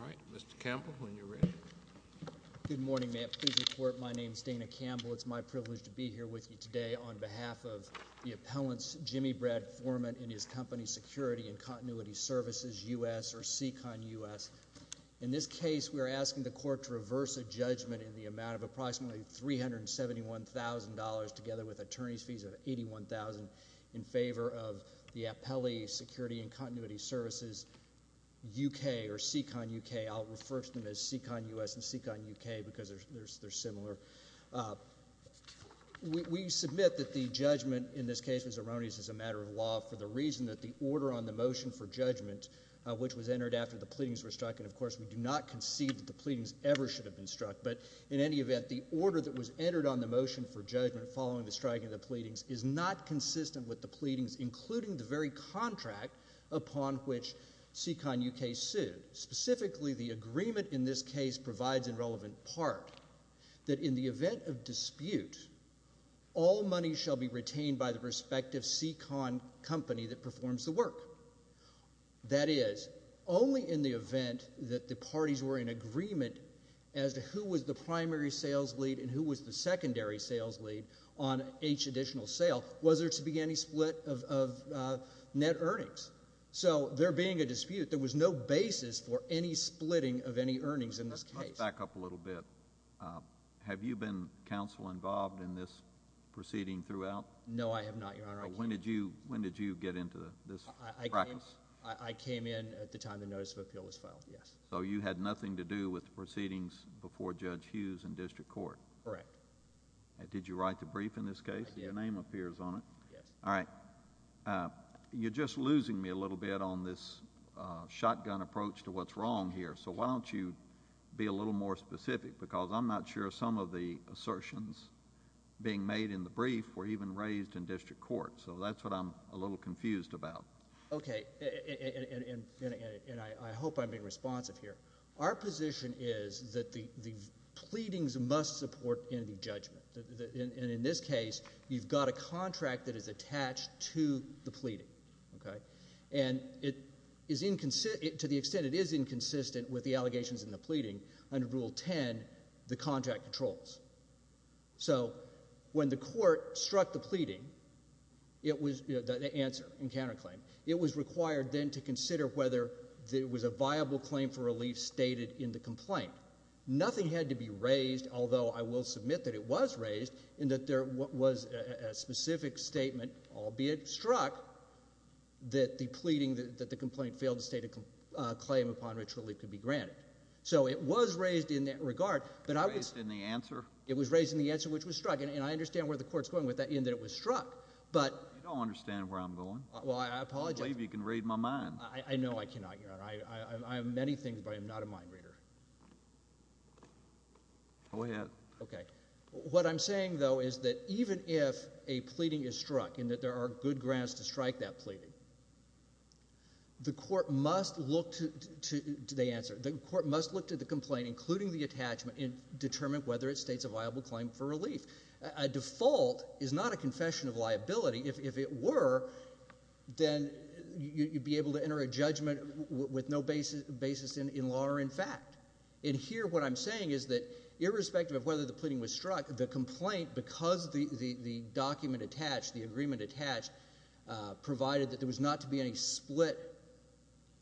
All right. Mr. Campbell, when you're ready. Good morning, ma'am. Please report. My name is Dana Campbell. It's my privilege to be here with you today on behalf of the appellants Jimmy Brad Foreman and his company Security and Continuity Services, U.S., or SECON, U.S. In this case, we are asking the Court to reverse a judgment in the amount of approximately $371,000, together with attorney's fees of $81,000, in favor of the appellee Security and Continuity Services, U.K., or SECON, U.K. I'll refer to them as SECON, U.S. and SECON, U.K. because they're similar. We submit that the judgment in this case was erroneous as a matter of law for the reason that the order on the motion for judgment, which was entered after the pleadings were struck, and of course, we do not concede that the pleadings ever should have been struck, but in any event, the order that was entered on the motion for judgment following the striking of the pleadings is not consistent with the pleadings, including the very contract upon which SECON, U.K. sued. Specifically, the agreement in this case provides a relevant part that in the event of dispute, all money shall be retained by the respective SECON company that performs the work. That is, only in the event that the parties were in agreement as to who was the primary sales lead and who was the secondary sales lead on each additional sale was there to be any split of net earnings. So there being a dispute, there was no basis for any splitting of any earnings in this case. Let's back up a little bit. Have you been, counsel, involved in this proceeding throughout? No, I have not, Your Honor. When did you get into this practice? I came in at the time the notice of appeal was filed, yes. So you had nothing to do with the proceedings before Judge Hughes in district court? Correct. Did you write the brief in this case? Yes. Your name appears on it. Yes. All right. You're just losing me a little bit on this shotgun approach to what's wrong here, so why don't you be a little more specific because I'm not sure some of the assertions being made in the brief were even raised in district court. So that's what I'm a little confused about. Okay, and I hope I'm being responsive here. Our position is that the pleadings must support in the judgment, and in this case, you've got a contract that is attached to the pleading, okay? And to the extent it is inconsistent with the allegations in the pleading, under Rule 10, the contract controls. So when the court struck the pleading, the answer in counterclaim, it was required then to consider whether there was a viable claim for relief stated in the complaint. Nothing had to be raised, although I will submit that it was raised, in that there was a specific statement, albeit struck, that the pleading, that the complaint failed to state a claim upon which relief could be granted. So it was raised in that regard, but I was— It was raised in the answer? It was raised in the answer which was struck, and I understand where the court's going with that, in that it was struck. But— You don't understand where I'm going. Well, I apologize. I don't believe you can read my mind. I know I cannot, Your Honor. I have many things, but I am not a mind reader. Go ahead. Okay. What I'm saying, though, is that even if a pleading is struck, and that there are good grounds to strike that pleading, the court must look to the answer, the court must look to the complaint, including the attachment, and determine whether it states a viable claim for relief. A default is not a confession of liability. If it were, then you'd be able to enter a judgment with no basis in law or in fact. And here what I'm saying is that irrespective of whether the pleading was struck, the complaint, because the document attached, the agreement attached, provided that there was not to be any split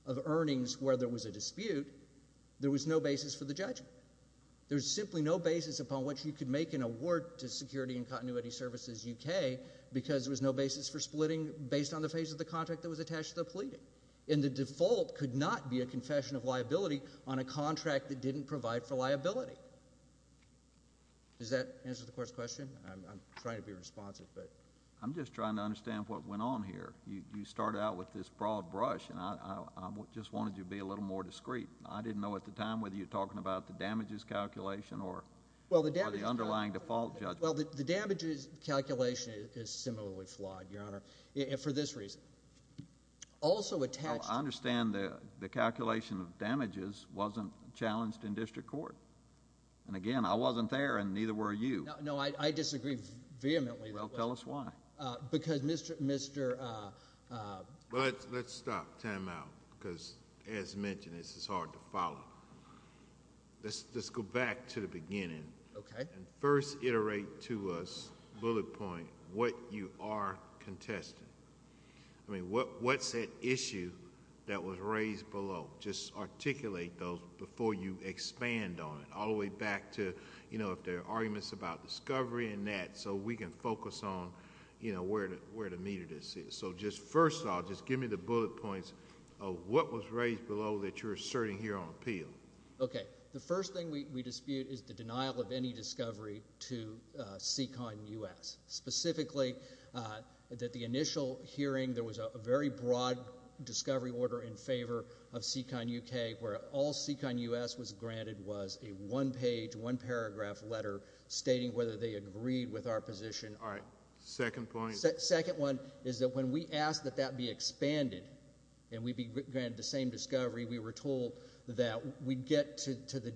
of earnings where there was a dispute, there was no basis for the judgment. There was simply no basis upon which you could make an award to Security and Continuity Services UK because there was no basis for splitting based on the phase of the contract that was attached to the pleading. And the default could not be a confession of liability on a contract that didn't provide for liability. Does that answer the Court's question? I'm trying to be responsive, but— I'm just trying to understand what went on here. You started out with this broad brush, and I just wanted you to be a little more discreet. I didn't know at the time whether you were talking about the damages calculation or the underlying default judgment. Well, the damages calculation is similarly flawed, Your Honor, for this reason. Also attached— I understand the calculation of damages wasn't challenged in district court. And again, I wasn't there, and neither were you. No, I disagree vehemently. Well, tell us why. Because Mr.— Let's stop. Time out. Because as mentioned, this is hard to follow. Let's go back to the beginning and first iterate to us, bullet point, what you are contesting. I mean, what's that issue that was raised below? Just articulate those before you expand on it, all the way back to if there are arguments about discovery and that, so we can focus on where the meat of this is. So just first off, just give me the bullet points of what was raised below that you're asserting here on appeal. Okay. The first thing we dispute is the denial of any discovery to Seacon U.S., specifically that the initial hearing, there was a very broad discovery order in favor of Seacon U.K. where all Seacon U.S. was granted was a one-page, one-paragraph letter stating whether they agreed with our position. All right. Second point. Second one is that when we asked that that be expanded and we be granted the same discovery, we were told that we'd get to the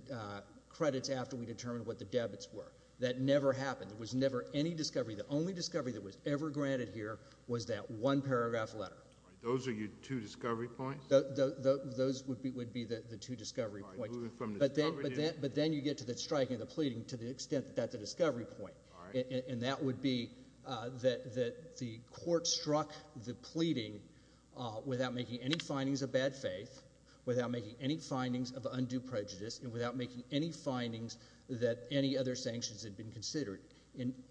credits after we determined what the debits were. That never happened. There was never any discovery. The only discovery that was ever granted here was that one-paragraph letter. Those are your two discovery points? Those would be the two discovery points. All right. Moving from discovery to? But then you get to the striking of the pleading to the extent that that's a discovery point. All right. And that would be that the court struck the pleading without making any findings of bad faith, without making any findings of undue prejudice, and without making any findings that any other sanctions had been considered.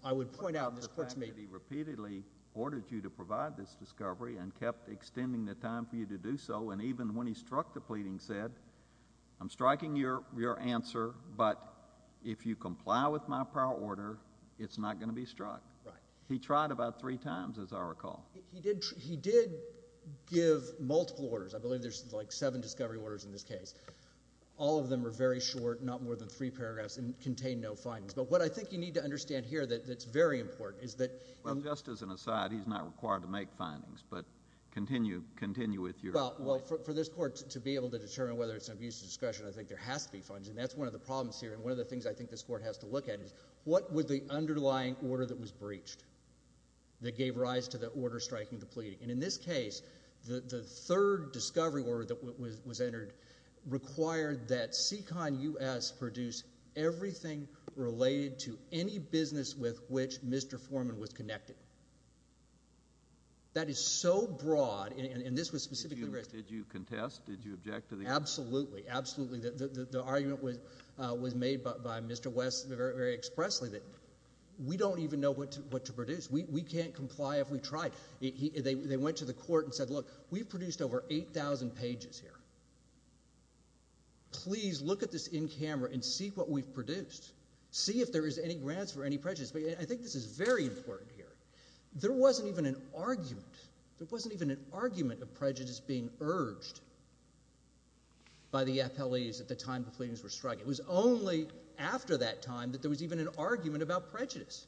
I would point out in this court's meeting— The fact that he repeatedly ordered you to provide this discovery and kept extending the time for you to do so, and even when he struck the pleading said, I'm striking your answer, but if you comply with my prior order, it's not going to be struck. Right. He tried about three times, as I recall. He did give multiple orders. I believe there's like seven discovery orders in this case. All of them are very short, not more than three paragraphs, and contain no findings. But what I think you need to understand here that's very important is that— Well, just as an aside, he's not required to make findings, but continue with your— Well, for this court to be able to determine whether it's an abuse of discretion, I think there has to be findings. That's one of the problems here. And one of the things I think this court has to look at is what was the underlying order that was breached that gave rise to the order striking the pleading? And in this case, the third discovery order that was entered required that SECON US produce everything related to any business with which Mr. Foreman was connected. That is so broad, and this was specifically— Did you contest? Did you object to the— Absolutely. Absolutely. The argument was made by Mr. West very expressly that we don't even know what to produce. We can't comply if we try. They went to the court and said, look, we've produced over 8,000 pages here. Please look at this in camera and see what we've produced. See if there is any grounds for any prejudice. I think this is very important here. There wasn't even an argument. There wasn't even an argument of prejudice being urged by the FLEs at the time the pleadings were struck. It was only after that time that there was even an argument about prejudice.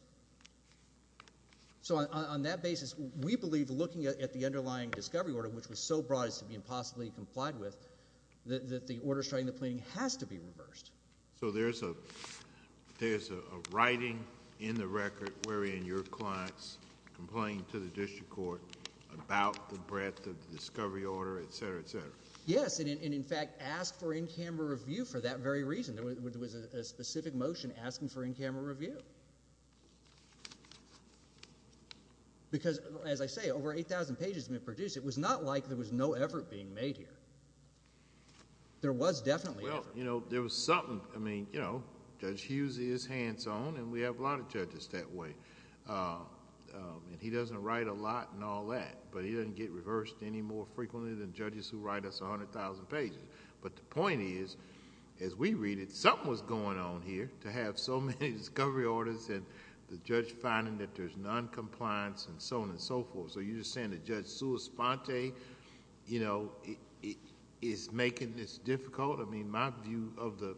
So on that basis, we believe looking at the underlying discovery order, which was so broad as to be impossibly complied with, that the order striking the pleading has to be reversed. So there's a writing in the record wherein your clients complained to the district court about the breadth of the discovery order, et cetera, et cetera. Yes, and in fact asked for in-camera review for that very reason. There was a specific motion asking for in-camera review. Because, as I say, over 8,000 pages have been produced. It was not like there was no effort being made here. There was definitely effort. Well, you know, there was something. I mean, you know, Judge Hughes is hands-on, and we have a lot of judges that way. He doesn't write a lot and all that, but he doesn't get reversed any more frequently than judges who write us 100,000 pages. But the point is, as we read it, something was going on here to have so many discovery orders, and the judge finding that there's noncompliance and so on and so forth. So you're just saying that Judge Sulis-Fonte, you know, is making this difficult? I mean, my view of the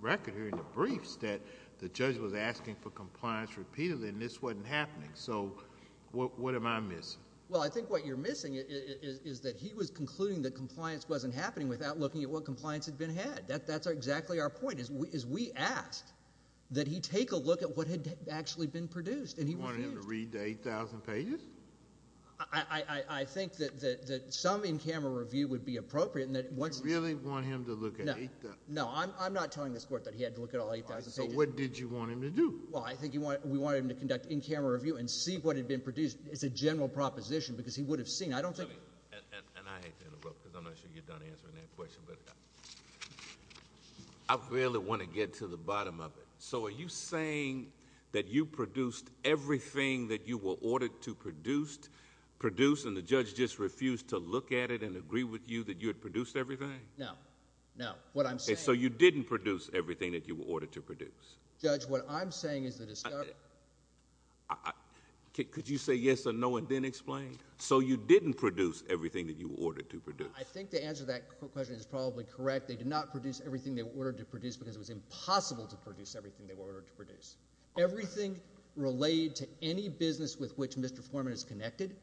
record here in the briefs that the judge was asking for compliance repeatedly, and this wasn't happening. So what am I missing? Well, I think what you're missing is that he was concluding that compliance wasn't happening without looking at what compliance had been had. That's exactly our point, is we asked that he take a look at what had actually been produced, and he refused. You wanted him to read the 8,000 pages? I think that some in-camera review would be appropriate, and that once— You really want him to look at 8,000— No. I'm not telling this Court that he had to look at all 8,000 pages. All right. So what did you want him to do? Well, I think we wanted him to conduct in-camera review and see what had been produced. It's a general proposition, because he would have seen. I don't think— And I hate to interrupt, because I'm not sure you're done answering that question. I really want to get to the bottom of it. So are you saying that you produced everything that you were ordered to produce, and the judge just refused to look at it and agree with you that you had produced everything? No. No. What I'm saying— So you didn't produce everything that you were ordered to produce? Judge, what I'm saying is that it's— Could you say yes or no and then explain? So you didn't produce everything that you were ordered to produce? I think the answer to that question is probably correct. They did not produce everything they were ordered to produce, because it was impossible to produce everything they were ordered to produce. Everything related to any business with which Mr. Foreman is connected,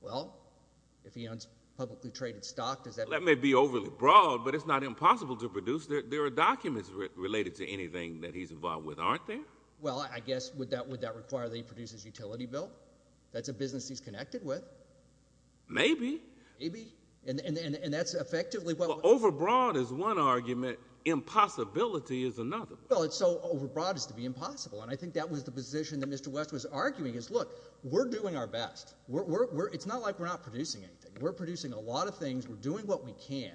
well, if he owns publicly traded stock, does that— That may be overly broad, but it's not impossible to produce. There are documents related to anything that he's involved with, aren't there? Well, I guess, would that require that he produces utility bill? That's a business he's connected with. Maybe. Maybe. And that's effectively what— Well, overbroad is one argument. Impossibility is another. Well, it's so overbroad as to be impossible, and I think that was the position that Mr. West was arguing, is, look, we're doing our best. It's not like we're not producing anything. We're producing a lot of things. We're doing what we can,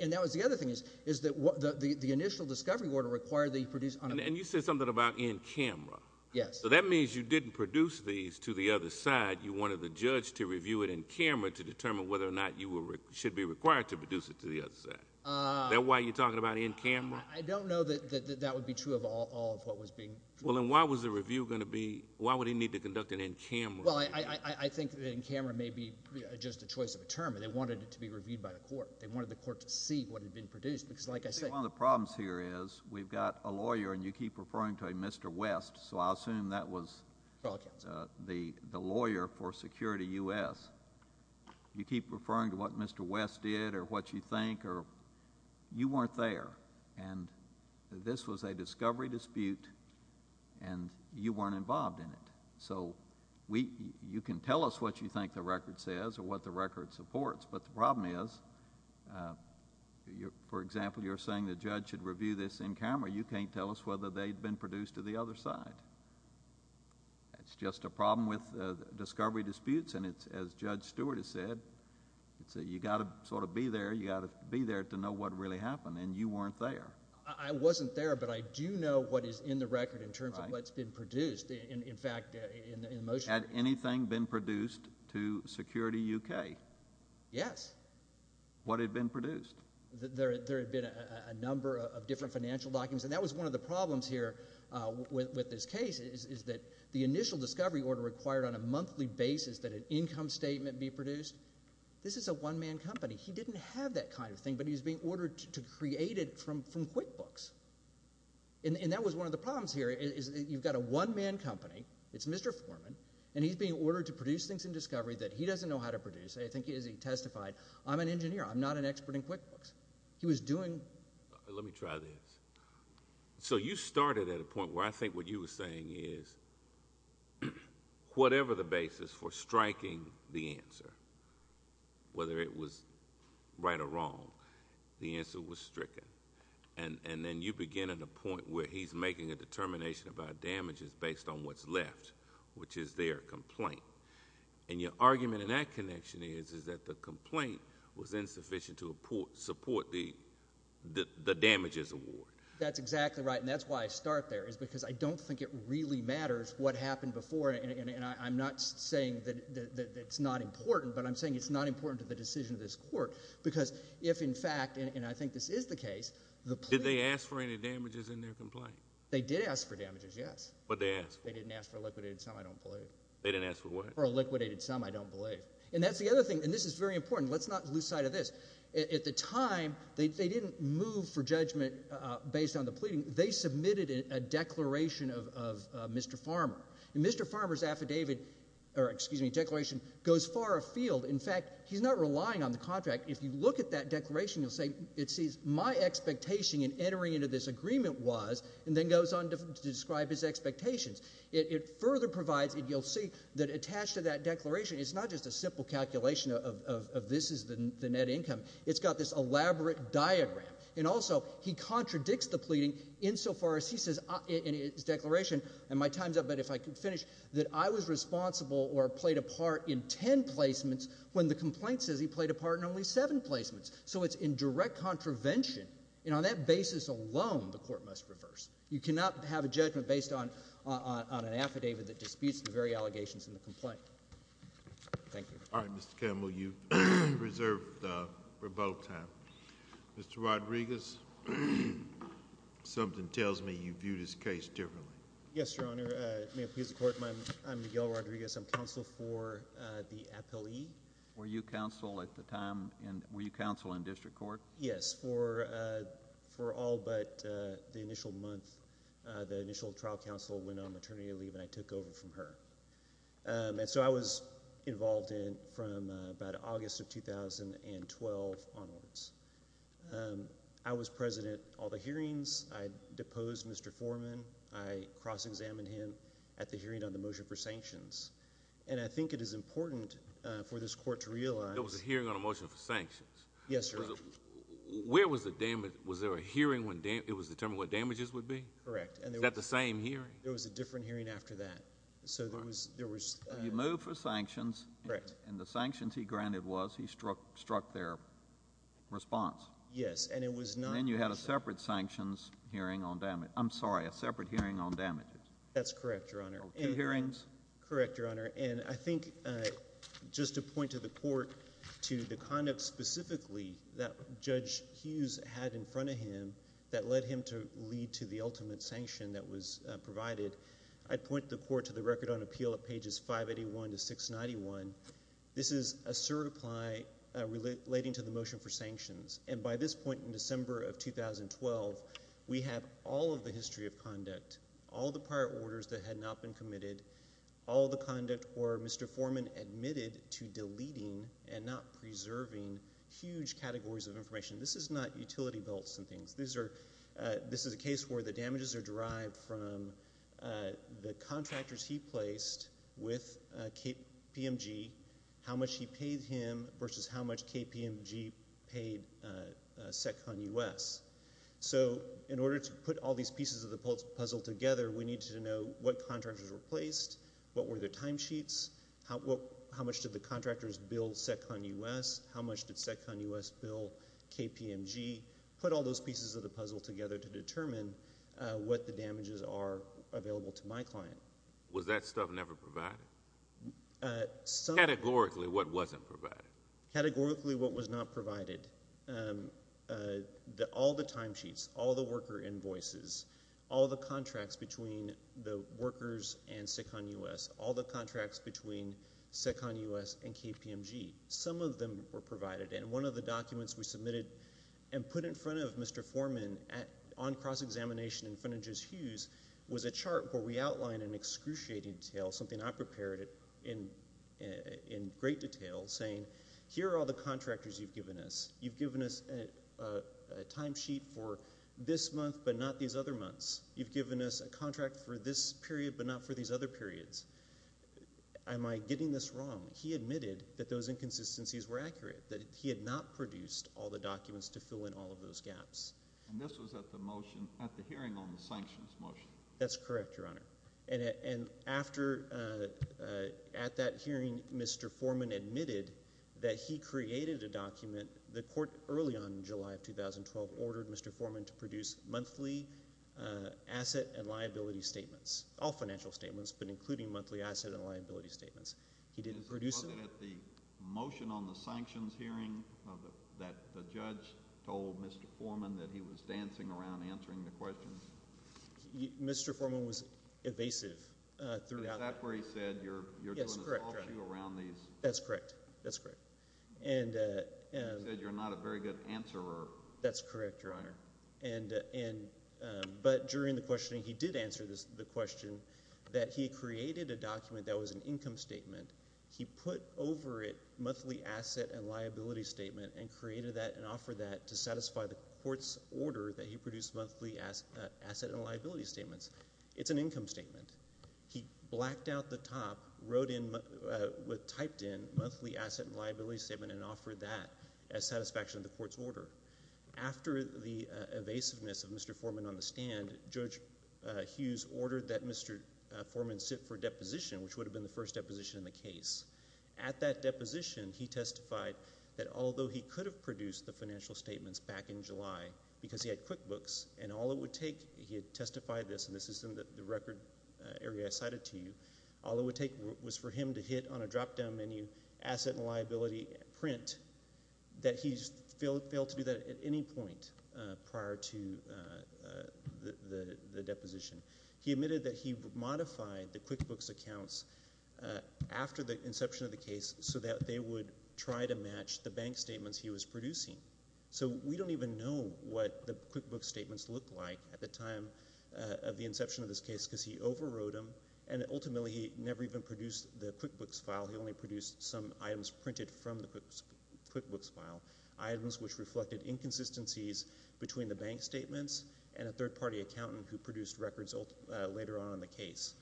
and that was the other thing, is that the initial discovery order required that he produce— And you said something about in camera. Yes. So that means you didn't produce these to the other side. You wanted the judge to review it in camera to determine whether or not you should be required to produce it to the other side. Is that why you're talking about in camera? I don't know that that would be true of all of what was being— Well, then why was the review going to be—why would he need to conduct an in camera review? Well, I think that in camera may be just a choice of a term, and they wanted it to be reviewed by the court. They wanted the court to see what had been produced, because like I said— I think one of the problems here is we've got a lawyer, and you keep referring to a Mr. West, so I assume that was the lawyer for Security U.S. You keep referring to what Mr. West did or what you think, or you weren't there, and this was a discovery dispute, and you weren't involved in it. So you can tell us what you think the record says or what the record supports, but the problem is, for example, you're saying the judge should review this in camera. You can't tell us whether they'd been produced to the other side. It's just a problem with discovery disputes, and it's, as Judge Stewart has said, you've got to sort of be there. You've got to be there to know what really happened, and you weren't there. I wasn't there, but I do know what is in the record in terms of what's been produced. In fact, in the motion— Had anything been produced to Security U.K.? Yes. What had been produced? There had been a number of different financial documents, and that was one of the problems here with this case, is that the initial discovery order required on a monthly basis that an income statement be produced. This is a one-man company. He didn't have that kind of thing, but he was being ordered to create it from QuickBooks, and that was one of the problems here, is that you've got a one-man company. It's Mr. Foreman, and he's being ordered to produce things in discovery that he doesn't know how to produce. I think he testified. I'm an engineer. I'm not an expert in QuickBooks. He was doing— Let me try this. You started at a point where I think what you were saying is, whatever the basis for striking the answer, whether it was right or wrong, the answer was stricken, and then you begin at a point where he's making a determination about damages based on what's left, which is their complaint. Your argument in that connection is that the complaint was insufficient to support the damages award. That's exactly right, and that's why I start there, is because I don't think it really matters what happened before, and I'm not saying that it's not important, but I'm saying it's not important to the decision of this court, because if, in fact—and I think this is the case— Did they ask for any damages in their complaint? They did ask for damages, yes. But they asked for what? They didn't ask for liquidated, semi-dumped pollutants. They didn't ask for what? Or a liquidated sum, I don't believe. And that's the other thing, and this is very important. Let's not lose sight of this. At the time, they didn't move for judgment based on the pleading. They submitted a declaration of Mr. Farmer. And Mr. Farmer's affidavit—or, excuse me, declaration—goes far afield. In fact, he's not relying on the contract. If you look at that declaration, you'll see it says, my expectation in entering into this agreement was, and then goes on to describe his expectations. It's not just a simple calculation of this is the net income. It's got this elaborate diagram. And also, he contradicts the pleading insofar as he says in his declaration—and my time's up, but if I could finish—that I was responsible or played a part in ten placements, when the complaint says he played a part in only seven placements. So it's in direct contravention, and on that basis alone, the court must reverse. You cannot have a judgment based on an affidavit that disputes the very allegations in the case. Thank you. All right. Mr. Campbell, you've reserved for both times. Mr. Rodriguez, something tells me you viewed his case differently. Yes, Your Honor. May it please the Court? I'm Miguel Rodriguez. I'm counsel for the appellee. Were you counsel at the time in—were you counsel in district court? Yes. For all but the initial month, the initial trial counsel went on maternity leave, and I took over from her. And so I was involved in from about August of 2012 onwards. I was president at all the hearings. I deposed Mr. Foreman. I cross-examined him at the hearing on the motion for sanctions. And I think it is important for this Court to realize— There was a hearing on a motion for sanctions. Yes, sir. Where was the damage—was there a hearing when it was determined what damages would be? Correct. Was that the same hearing? There was a different hearing after that. So there was— You moved for sanctions. Correct. And the sanctions he granted was he struck their response. Yes. And it was not— And then you had a separate sanctions hearing on damage—I'm sorry, a separate hearing on damages. That's correct, Your Honor. Two hearings? Correct, Your Honor. And I think just to point to the Court, to the conduct specifically that Judge Hughes had in front of him that led him to lead to the ultimate sanction that was provided to him. I'd point the Court to the Record on Appeal at pages 581 to 691. This is a certify relating to the motion for sanctions. And by this point in December of 2012, we have all of the history of conduct, all the prior orders that had not been committed, all the conduct where Mr. Foreman admitted to deleting and not preserving huge categories of information. This is not utility belts and things. These are—this is a case where the damages are derived from the contractors he placed with KPMG, how much he paid him versus how much KPMG paid SecCon US. So in order to put all these pieces of the puzzle together, we need to know what contractors were placed, what were their timesheets, how much did the contractors bill SecCon US, how much did SecCon US bill KPMG, put all those pieces of the puzzle together to determine what the damages are available to my client. Was that stuff never provided? Categorically, what wasn't provided? Categorically, what was not provided. All the timesheets, all the worker invoices, all the contracts between the workers and SecCon US, all the contracts between SecCon US and KPMG. Some of them were provided, and one of the documents we submitted and put in front of Mr. Foreman on cross-examination in front of Judge Hughes was a chart where we outlined an excruciating detail, something I prepared in great detail, saying here are all the contractors you've given us. You've given us a timesheet for this month but not these other months. You've given us a contract for this period but not for these other periods. Am I getting this wrong? He admitted that those inconsistencies were accurate, that he had not produced all the documents to fill in all of those gaps. And this was at the motion, at the hearing on the sanctions motion? That's correct, Your Honor. And after, at that hearing, Mr. Foreman admitted that he created a document, the court early on in July of 2012 ordered Mr. Foreman to produce monthly asset and liability statements, all financial statements, but including monthly asset and liability statements. He didn't produce them. Was it at the motion on the sanctions hearing that the judge told Mr. Foreman that he was dancing around answering the questions? Mr. Foreman was evasive throughout that. Is that where he said, you're doing this all to you around these? That's correct. That's correct. He said you're not a very good answerer. That's correct, Your Honor. But during the questioning, he did answer the question that he created a document that was an income statement. He put over it monthly asset and liability statement and created that and offered that to satisfy the court's order that he produced monthly asset and liability statements. It's an income statement. He blacked out the top, wrote in, typed in monthly asset and liability statement and offered that as satisfaction of the court's order. After the evasiveness of Mr. Foreman on the stand, Judge Hughes ordered that Mr. Foreman sit for deposition, which would have been the first deposition in the case. At that deposition, he testified that although he could have produced the financial statements back in July because he had QuickBooks and all it would take, he had testified this, and this is in the record area I cited to you, all it would take was for him to hit on a drop-down menu, asset and liability print, that he failed to do that at any point prior to the deposition. He admitted that he modified the QuickBooks accounts after the inception of the case so that they would try to match the bank statements he was producing. So we don't even know what the QuickBooks statements looked like at the time of the inception of this case because he overrode them, and ultimately he never even produced the QuickBooks file. He only produced some items printed from the QuickBooks file, items which reflected inconsistencies between the bank statements and a third-party accountant who produced records later on in the case.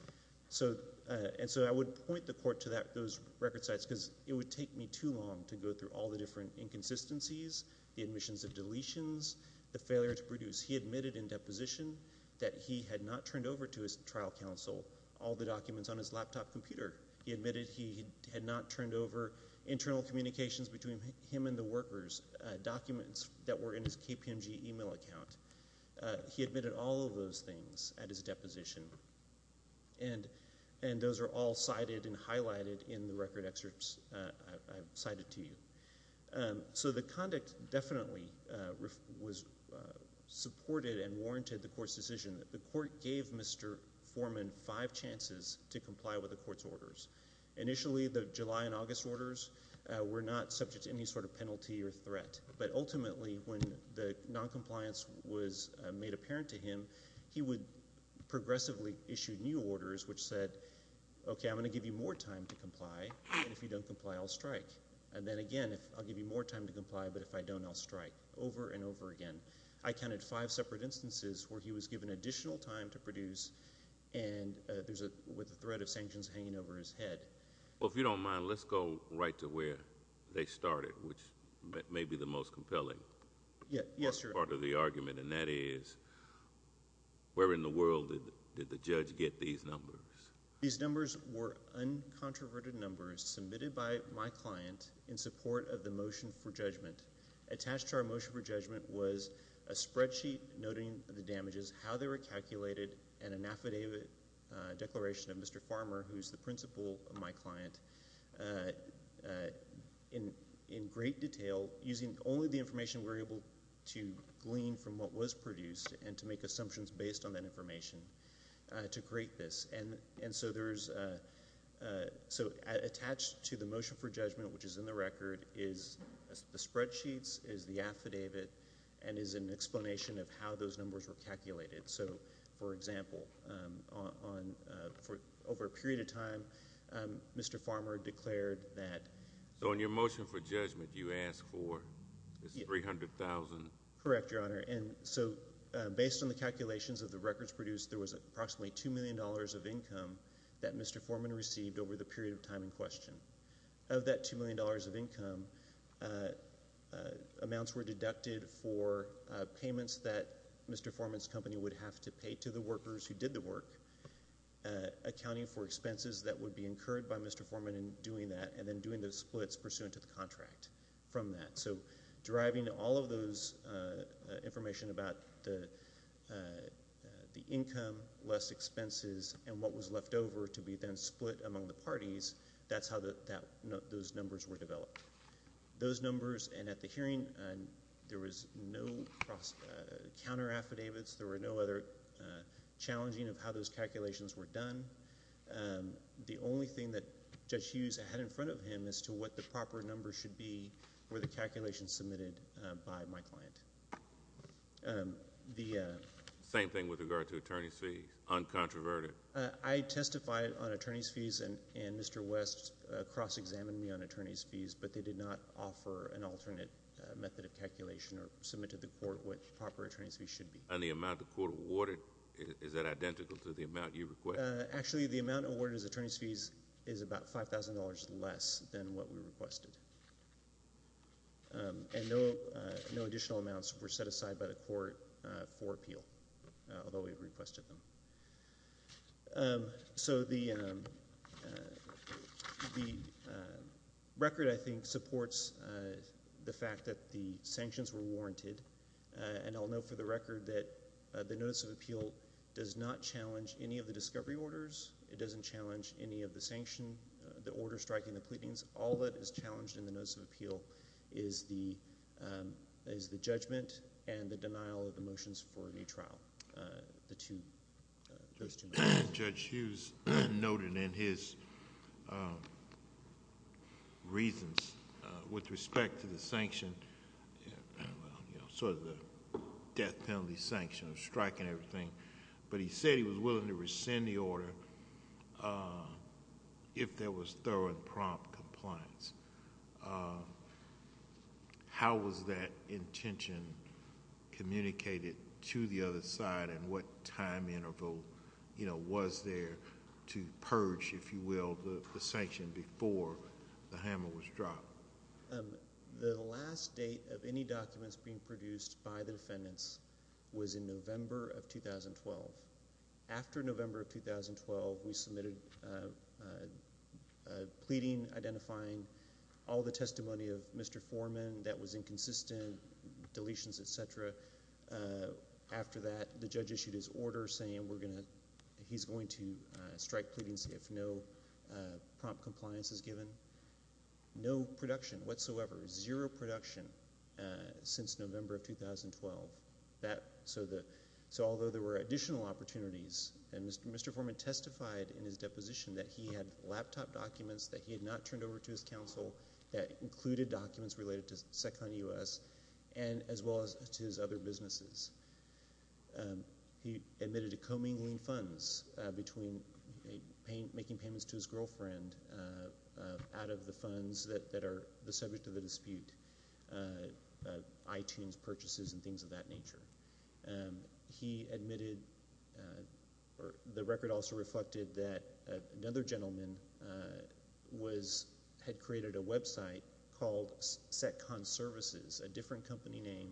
And so I would point the court to those record sites because it would take me too long to go through all the different inconsistencies, the admissions and deletions, the failure to produce. He admitted in deposition that he had not turned over to his trial counsel all the documents on his laptop computer. He admitted he had not turned over internal communications between him and the workers, documents that were in his KPMG email account. He admitted all of those things at his deposition, and those are all cited and highlighted in the record excerpts I've cited to you. So the conduct definitely was supported and warranted the court's decision. The court gave Mr. Foreman five chances to comply with the court's orders. Initially, the July and August orders were not subject to any sort of penalty or threat, but ultimately when the noncompliance was made apparent to him, he would progressively issue new orders which said, okay, I'm going to give you more time to comply, and if you don't comply, I'll strike. And then again, I'll give you more time to comply, but if I don't, I'll strike, over and over again. I counted five separate instances where he was given additional time to produce and there's a threat of sanctions hanging over his head. Well, if you don't mind, let's go right to where they started, which may be the most compelling part of the argument, and that is, where in the world did the judge get these numbers? These numbers were uncontroverted numbers submitted by my client in support of the motion for judgment. Attached to our motion for judgment was a spreadsheet noting the damages, how they were calculated. So this is an illustration of Mr. Farmer, who's the principal of my client, in great detail, using only the information we're able to glean from what was produced and to make assumptions based on that information to create this. And so there's, so attached to the motion for judgment, which is in the record, is the spreadsheets, is the affidavit, and is an explanation of how those numbers were calculated. So, for example, over a period of time, Mr. Farmer declared that— So in your motion for judgment, you asked for, it's $300,000. Correct, Your Honor. And so based on the calculations of the records produced, there was approximately $2 million of income that Mr. Forman received over the period of time in question. Of that $2 million of income, amounts were deducted for payments that Mr. Forman's company would have to pay to the workers who did the work, accounting for expenses that would be incurred by Mr. Forman in doing that, and then doing those splits pursuant to the contract from that. So deriving all of those information about the income, less expenses, and what was left over to be then split among the parties, that's how those numbers were developed. Those numbers, and at the hearing, there was no counter-affidavits, there were no other challenging of how those calculations were done. The only thing that Judge Hughes had in front of him as to what the proper numbers should be were the calculations submitted by my client. Same thing with regard to attorney's fees, uncontroverted. I testified on attorney's fees, and Mr. West cross-examined me on attorney's fees, but they did not offer an alternate method of calculation or submit to the court what proper attorney's fees should be. And the amount the court awarded, is that identical to the amount you requested? Actually, the amount awarded as attorney's fees is about $5,000 less than what we requested. And no additional amounts were set aside by the court for appeal, although we requested them. So the record, I think, supports the fact that the sanctions were warranted, and I'll note for the record that the Notice of Appeal does not challenge any of the discovery orders, it doesn't challenge any of the sanction, the order striking, the pleadings, all that is challenged in the Notice of Appeal is the judgment and the denial of the motions for a new trial, those two motions. Judge Hughes noted in his reasons with respect to the sanction, sort of the death penalty sanction of striking everything, but he said he was willing to rescind the order if there was thorough and prompt compliance. How was that intention communicated to the other side and what time interval was there to purge, if you will, the sanction before the hammer was dropped? The last date of any documents being produced by the defendants was in November of 2012. After November of 2012, we submitted a pleading identifying all the testimony of Mr. Foreman that was inconsistent, deletions, et cetera. After that, the judge issued his order saying he's going to strike pleadings if no prompt compliance is given. No production whatsoever, zero production since November of 2012. Although there were additional opportunities, and Mr. Foreman testified in his deposition that he had laptop documents that he had not turned over to his counsel that included documents related to Sec Con U.S. as well as to his other businesses. He admitted to commingling funds between making payments to his girlfriend out of the funds that are the subject of the dispute, iTunes purchases and things of that nature. He admitted, the record also reflected that another gentleman had created a website called Sec Con Services, a different company name,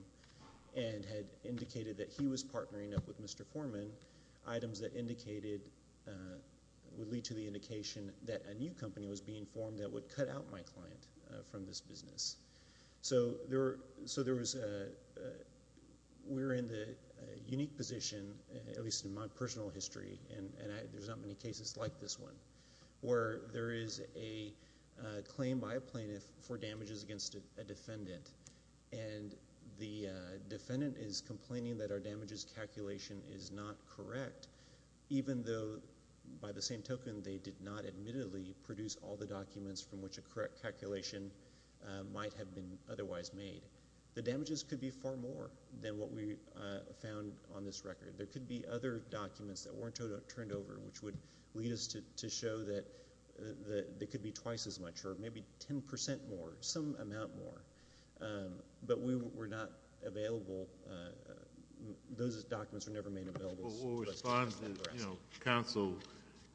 and had indicated that he was partnering up with Mr. Foreman. Items that indicated, would lead to the indication that a new company was being formed that would cut out my client from this business. So we're in the unique position, at least in my personal history, and there's not many cases like this one, where there is a claim by a plaintiff for damages against a defendant, and the defendant is complaining that our damages calculation is not correct, even though by the same token, they did not admittedly produce all the documents from which a correct calculation might have been otherwise made. The damages could be far more than what we found on this record. There could be other documents that weren't turned over, which would lead us to show that there could be twice as much, or maybe 10% more, some amount more, but we were not available. Those documents were never made available to us. Counsel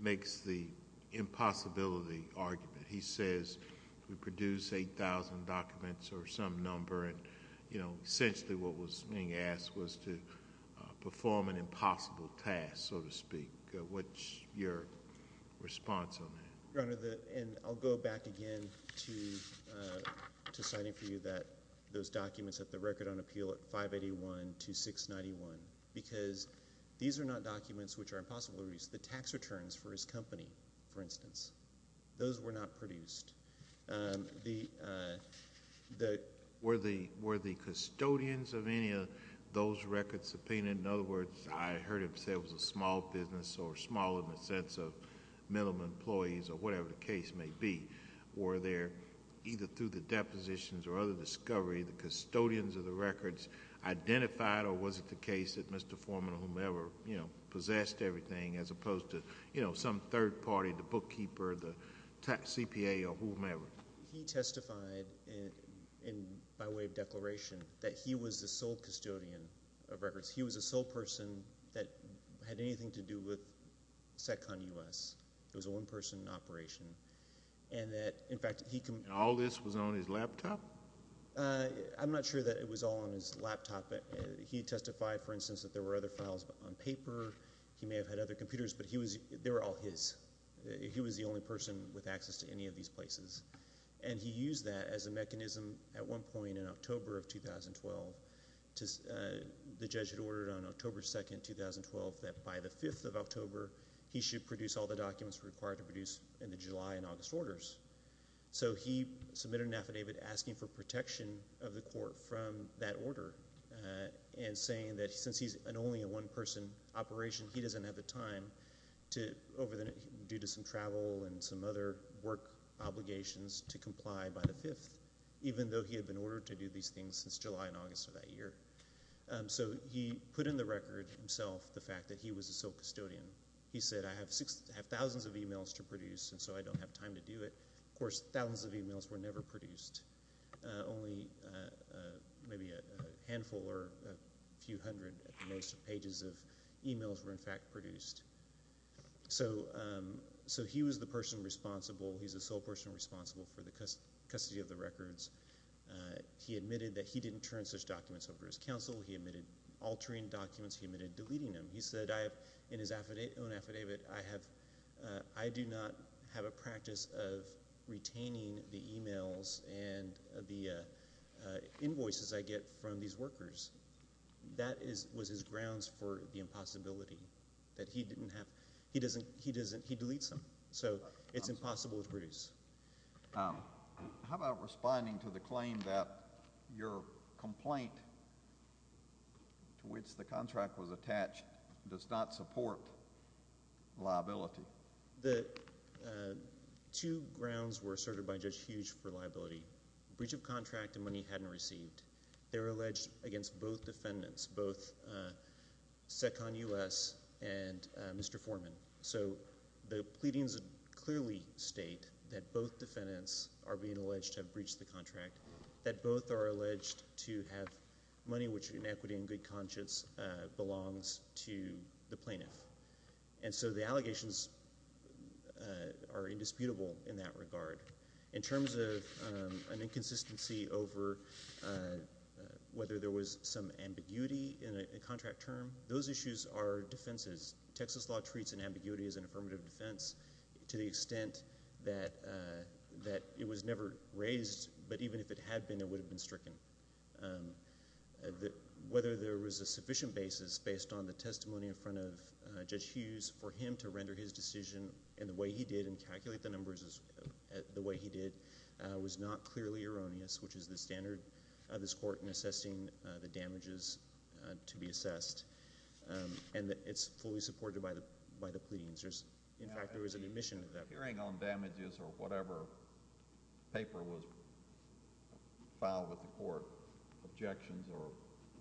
makes the impossibility argument. He says, we produced 8,000 documents, or some number, and essentially what was being asked was to perform an impossible task, so to speak. What's your response on that? Your Honor, and I'll go back again to signing for you that those documents at the Record on Appeal at 581 to 691, because these are not documents which are impossible to produce. The tax returns for his company, for instance, those were not produced. Were the custodians of any of those records subpoenaed, in other words, I heard him say it was a small business, or small in the sense of minimum employees, or whatever the case may be, were there, either through the depositions or other discovery, the custodians of the records identified, or was it the case that Mr. Foreman, or whomever, possessed everything, as opposed to some third party, the bookkeeper, the CPA, or whomever? He testified, by way of declaration, that he was the sole custodian of records. He was the sole person that had anything to do with Sec Con U.S. It was a one-person operation, and that, in fact, he— All this was on his laptop? I'm not sure that it was all on his laptop. He testified, for instance, that there were other files on paper. He may have had other computers, but they were all his. He was the only person with access to any of these places, and he used that as a mechanism at one point in October of 2012. The judge had ordered on October 2, 2012, that by the 5th of October, he should produce all the documents required to produce in the July and August orders. So he submitted an affidavit asking for protection of the court from that order, and saying that since he's only a one-person operation, he doesn't have the time, due to some travel and some other work obligations, to comply by the 5th, even though he had been ordered to do these things since July and August of that year. So he put in the record himself the fact that he was the sole custodian. He said, I have thousands of emails to produce, and so I don't have time to do it. Of course, thousands of emails were never produced. Only maybe a handful or a few hundred, at the most, pages of emails were, in fact, produced. So he was the person responsible. He's the sole person responsible for the custody of the records. He admitted that he didn't turn such documents over to his counsel. He admitted altering documents. He admitted deleting them. He said, in his own affidavit, I do not have a practice of retaining the emails and the invoices I get from these workers. That was his grounds for the impossibility, that he didn't have, he deletes them. So it's impossible to produce. How about responding to the claim that your complaint to which the contract was attached does not support liability? The two grounds were asserted by Judge Hughes for liability. Breach of contract and money hadn't received. They were alleged against both defendants, both Seccon U.S. and Mr. Foreman. So the pleadings clearly state that both defendants are being alleged to have breached the contract, that both are alleged to have money which, in equity and good conscience, belongs to the plaintiff. And so the allegations are indisputable in that regard. In terms of an inconsistency over whether there was some ambiguity in a contract term, those issues are defenses. Texas law treats an ambiguity as an affirmative defense to the extent that it was never raised. But even if it had been, it would have been stricken. Whether there was a sufficient basis based on the testimony in front of Judge Hughes for him to render his decision in the way he did and calculate the numbers the way he did was not clearly erroneous, which is the standard of this court in assessing the damages to be assessed. And it's fully supported by the pleadings. In fact, there was an admission of that. Hearing on damages or whatever paper was filed with the court, objections or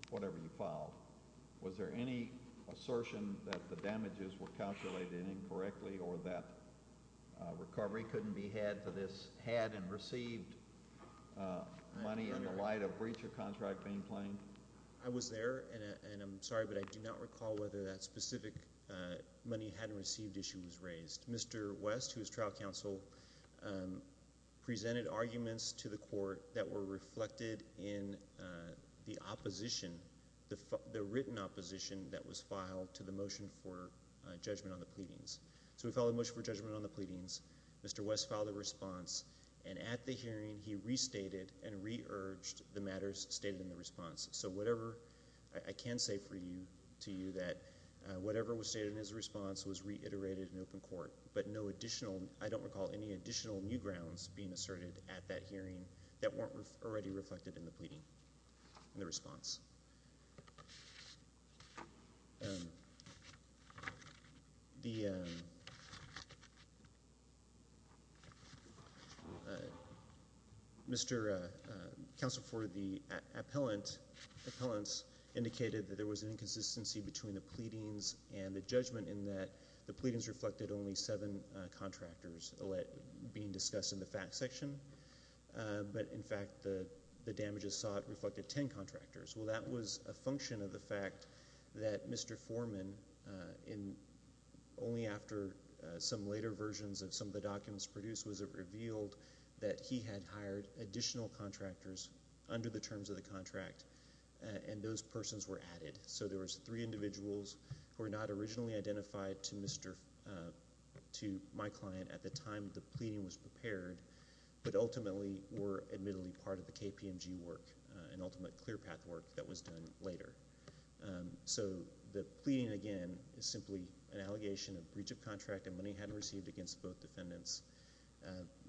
whatever you filed. Was there any assertion that the damages were calculated incorrectly or that recovery couldn't be had for this had and received money in the light of breach of contract being claimed? I was there, and I'm sorry, but I do not recall whether that specific money hadn't received issue was raised. Mr. West, who is trial counsel, presented arguments to the court that were reflected in the opposition, the written opposition that was filed to the motion for judgment on the pleadings. So we filed a motion for judgment on the pleadings, Mr. West filed a response. And at the hearing, he restated and re-urged the matters stated in the response. So whatever, I can say for you, to you that whatever was stated in his response was reiterated in open court. But no additional, I don't recall any additional new grounds being asserted at that hearing that weren't already reflected in the pleading, in the response. The Mr. Counsel for the appellants indicated that there was an inconsistency between the pleadings and the judgment in that the pleadings reflected only seven contractors being discussed in the fact section. But in fact, the damages sought reflected ten contractors. Well, that was a function of the fact that Mr. Foreman, only after some later versions of some of the documents produced, was it revealed that he had hired additional contractors under the terms of the contract. And those persons were added. So there was three individuals who were not originally identified to my client at the time the pleading was prepared. But ultimately were admittedly part of the KPMG work, an ultimate clear path work that was done later. So the pleading again is simply an allegation of breach of contract and money hadn't received against both defendants.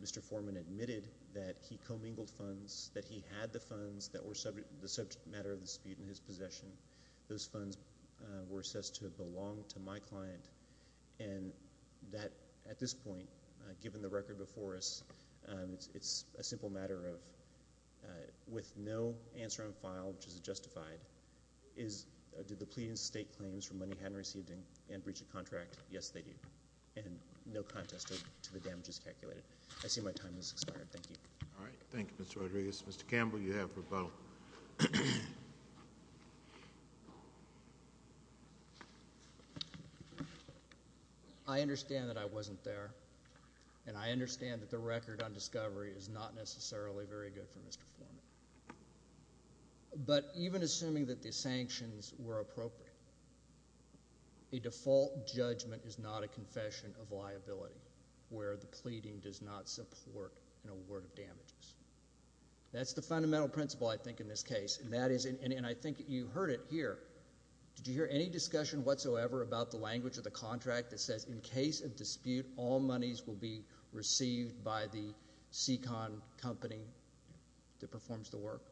Mr. Foreman admitted that he commingled funds, that he had the funds that were subject matter of dispute in his possession. Those funds were assessed to belong to my client. And that at this point, given the record before us, it's a simple matter of with no answer on file, which is justified. Is, did the pleading state claims for money hadn't received and breach of contract? Yes, they do. And no contest to the damages calculated. I see my time has expired, thank you. All right, thank you, Mr. Rodriguez. Mr. Campbell, you have rebuttal. I understand that I wasn't there. And I understand that the record on discovery is not necessarily very good for Mr. Foreman. But even assuming that the sanctions were appropriate, a default judgment is not a confession of liability where the pleading does not support an award of damages. That's the fundamental principle, I think, in this case. And that is, and I think you heard it here. Did you hear any discussion whatsoever about the language of the contract that says, in case of dispute, all monies will be received by the SECON company that performs the work?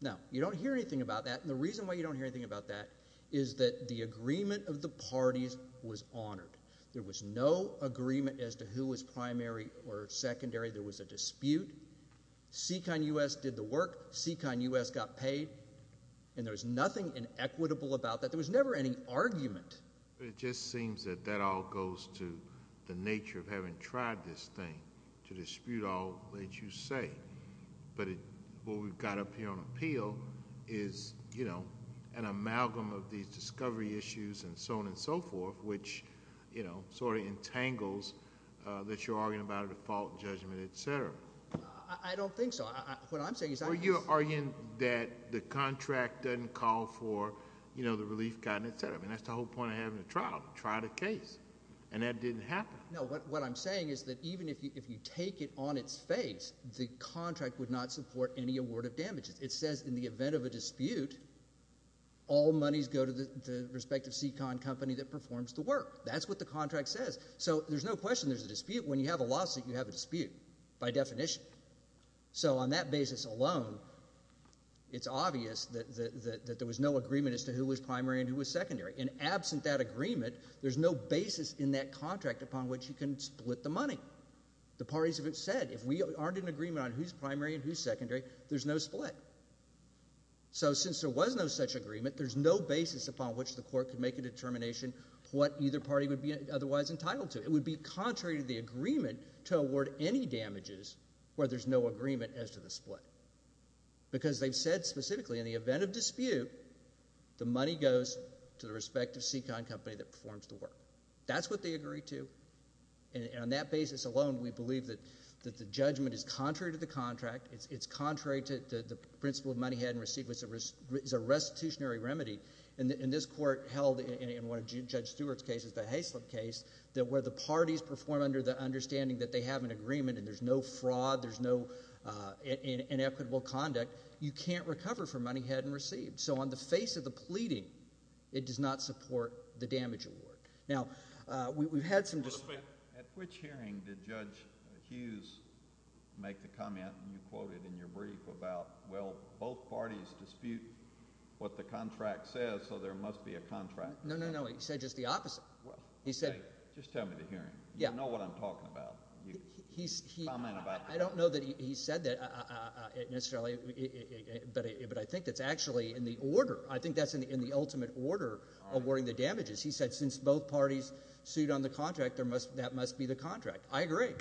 Now, you don't hear anything about that. And the reason why you don't hear anything about that is that the agreement of the parties was honored. There was no agreement as to who was primary or secondary. There was a dispute. SECON US did the work. SECON US got paid. And there was nothing inequitable about that. There was never any argument. It just seems that that all goes to the nature of having tried this thing, to dispute all that you say. But what we've got up here on appeal is an amalgam of these discovery issues and so on and so forth, which sort of entangles that you're arguing about a default judgment, etc. I don't think so. What I'm saying is I'm- Well, you're arguing that the contract doesn't call for the relief gun, etc. I mean, that's the whole point of having a trial, to try the case. And that didn't happen. No, what I'm saying is that even if you take it on its face, the contract would not support any award of damages. It says, in the event of a dispute, all monies go to the respective SECON company that performs the work. That's what the contract says. So there's no question there's a dispute. When you have a lawsuit, you have a dispute, by definition. So on that basis alone, it's obvious that there was no agreement as to who was primary and who was secondary. And absent that agreement, there's no basis in that contract upon which you can split the money. The parties have said, if we aren't in agreement on who's primary and who's secondary, there's no split. So since there was no such agreement, there's no basis upon which the court could make a determination what either party would be otherwise entitled to. It would be contrary to the agreement to award any damages where there's no agreement as to the split. Because they've said specifically, in the event of dispute, the money goes to the respective SECON company that performs the work. That's what they agree to. And on that basis alone, we believe that the judgment is contrary to the contract. It's contrary to the principle of money had and received is a restitutionary remedy. And this court held, in one of Judge Stewart's cases, the Haislip case, that where the parties perform under the understanding that they have an agreement and there's no fraud, there's no inequitable conduct, you can't recover from money had and received. So on the face of the pleading, it does not support the damage award. Now, we've had some dispute. At which hearing did Judge Hughes make the comment, and you quoted in your brief, about, well, both parties dispute what the contract says, so there must be a contract. No, no, no. He said just the opposite. He said— Just tell me the hearing. You know what I'm talking about. You comment about— I don't know that he said that necessarily, but I think that's actually in the order. I think that's in the ultimate order of awarding the damages. He said since both parties sued on the contract, that must be the contract. I agree.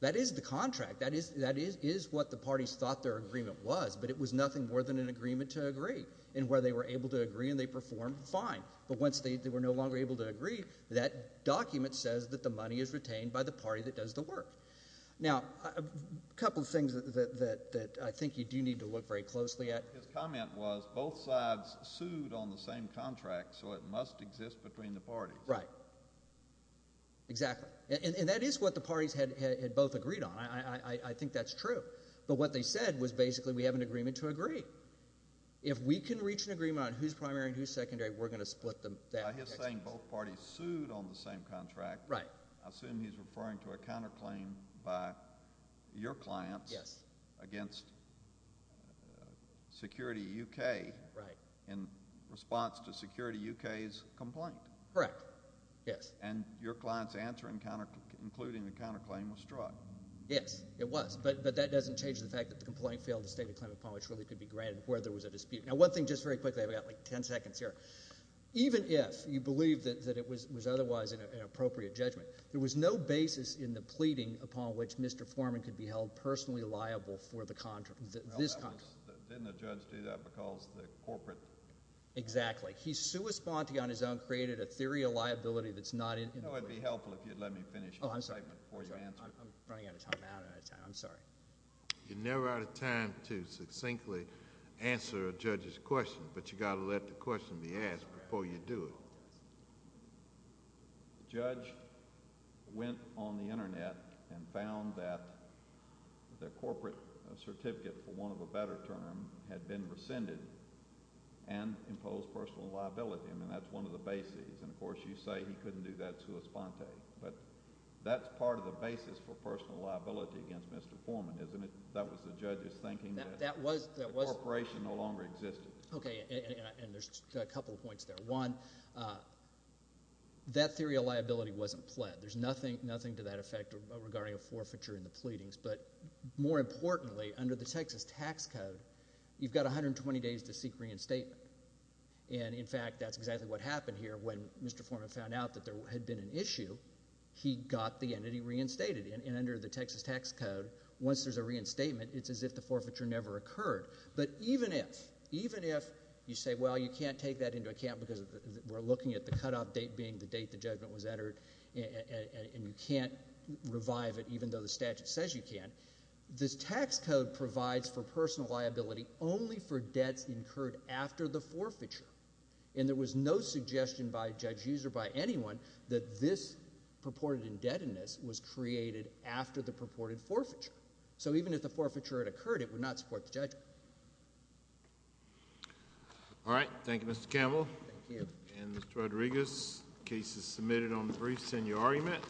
That is the contract. That is what the parties thought their agreement was, but it was nothing more than an agreement to agree. And where they were able to agree and they performed, fine. But once they were no longer able to agree, that document says that the money is retained by the party that does the work. Now, a couple of things that I think you do need to look very closely at— His comment was both sides sued on the same contract, so it must exist between the parties. Right. Exactly. And that is what the parties had both agreed on. I think that's true. But what they said was basically we have an agreement to agree. If we can reach an agreement on who's primary and who's secondary, we're going to split them— Now, he's saying both parties sued on the same contract. Right. I assume he's referring to a counterclaim by your clients— Yes. —against Security UK in response to Security UK's complaint. Correct. Yes. And your client's answer, including the counterclaim, was struck. Yes, it was. But that doesn't change the fact that the complaint failed to state a claim upon which really could be granted where there was a dispute. Now, one thing, just very quickly, I've got like 10 seconds here. Even if you believe that it was otherwise an appropriate judgment, there was no basis in the pleading upon which Mr. Foreman could be held personally liable for this contract. Didn't the judge do that because the corporate— Exactly. He's sui sponte on his own, created a theory of liability that's not in the— No, it would be helpful if you'd let me finish my statement before you answer it. I'm running out of time. I'm out of time. I'm sorry. You're never out of time to succinctly answer a judge's question, but you've got to let the question be asked before you do it. The judge went on the Internet and found that the corporate certificate, for want of a better term, had been rescinded and imposed personal liability. I mean, that's one of the bases. And, of course, you say he couldn't do that sui sponte, but that's part of the basis for personal liability against Mr. Foreman, isn't it? That was the judge's thinking that the corporation no longer existed. OK, and there's a couple of points there. One, that theory of liability wasn't pled. There's nothing to that effect regarding a forfeiture in the pleadings. But more importantly, under the Texas tax code, you've got 120 days to seek reinstatement. And, in fact, that's exactly what happened here. When Mr. Foreman found out that there had been an issue, he got the entity reinstated. And under the Texas tax code, once there's a reinstatement, it's as if the forfeiture never occurred. But even if you say, well, you can't take that into account because we're looking at the cutoff date being the date the judgment was entered, and you can't revive it even though the statute says you can, this tax code provides for personal liability only for debts incurred after the forfeiture. And there was no suggestion by judge Hughes or by anyone that this purported indebtedness was created after the purported forfeiture. So even if the forfeiture had occurred, it would not support the judgment. All right. Thank you, Mr. Campbell. Thank you. And, Mr. Rodriguez, the case is submitted on the brief. Send your argument.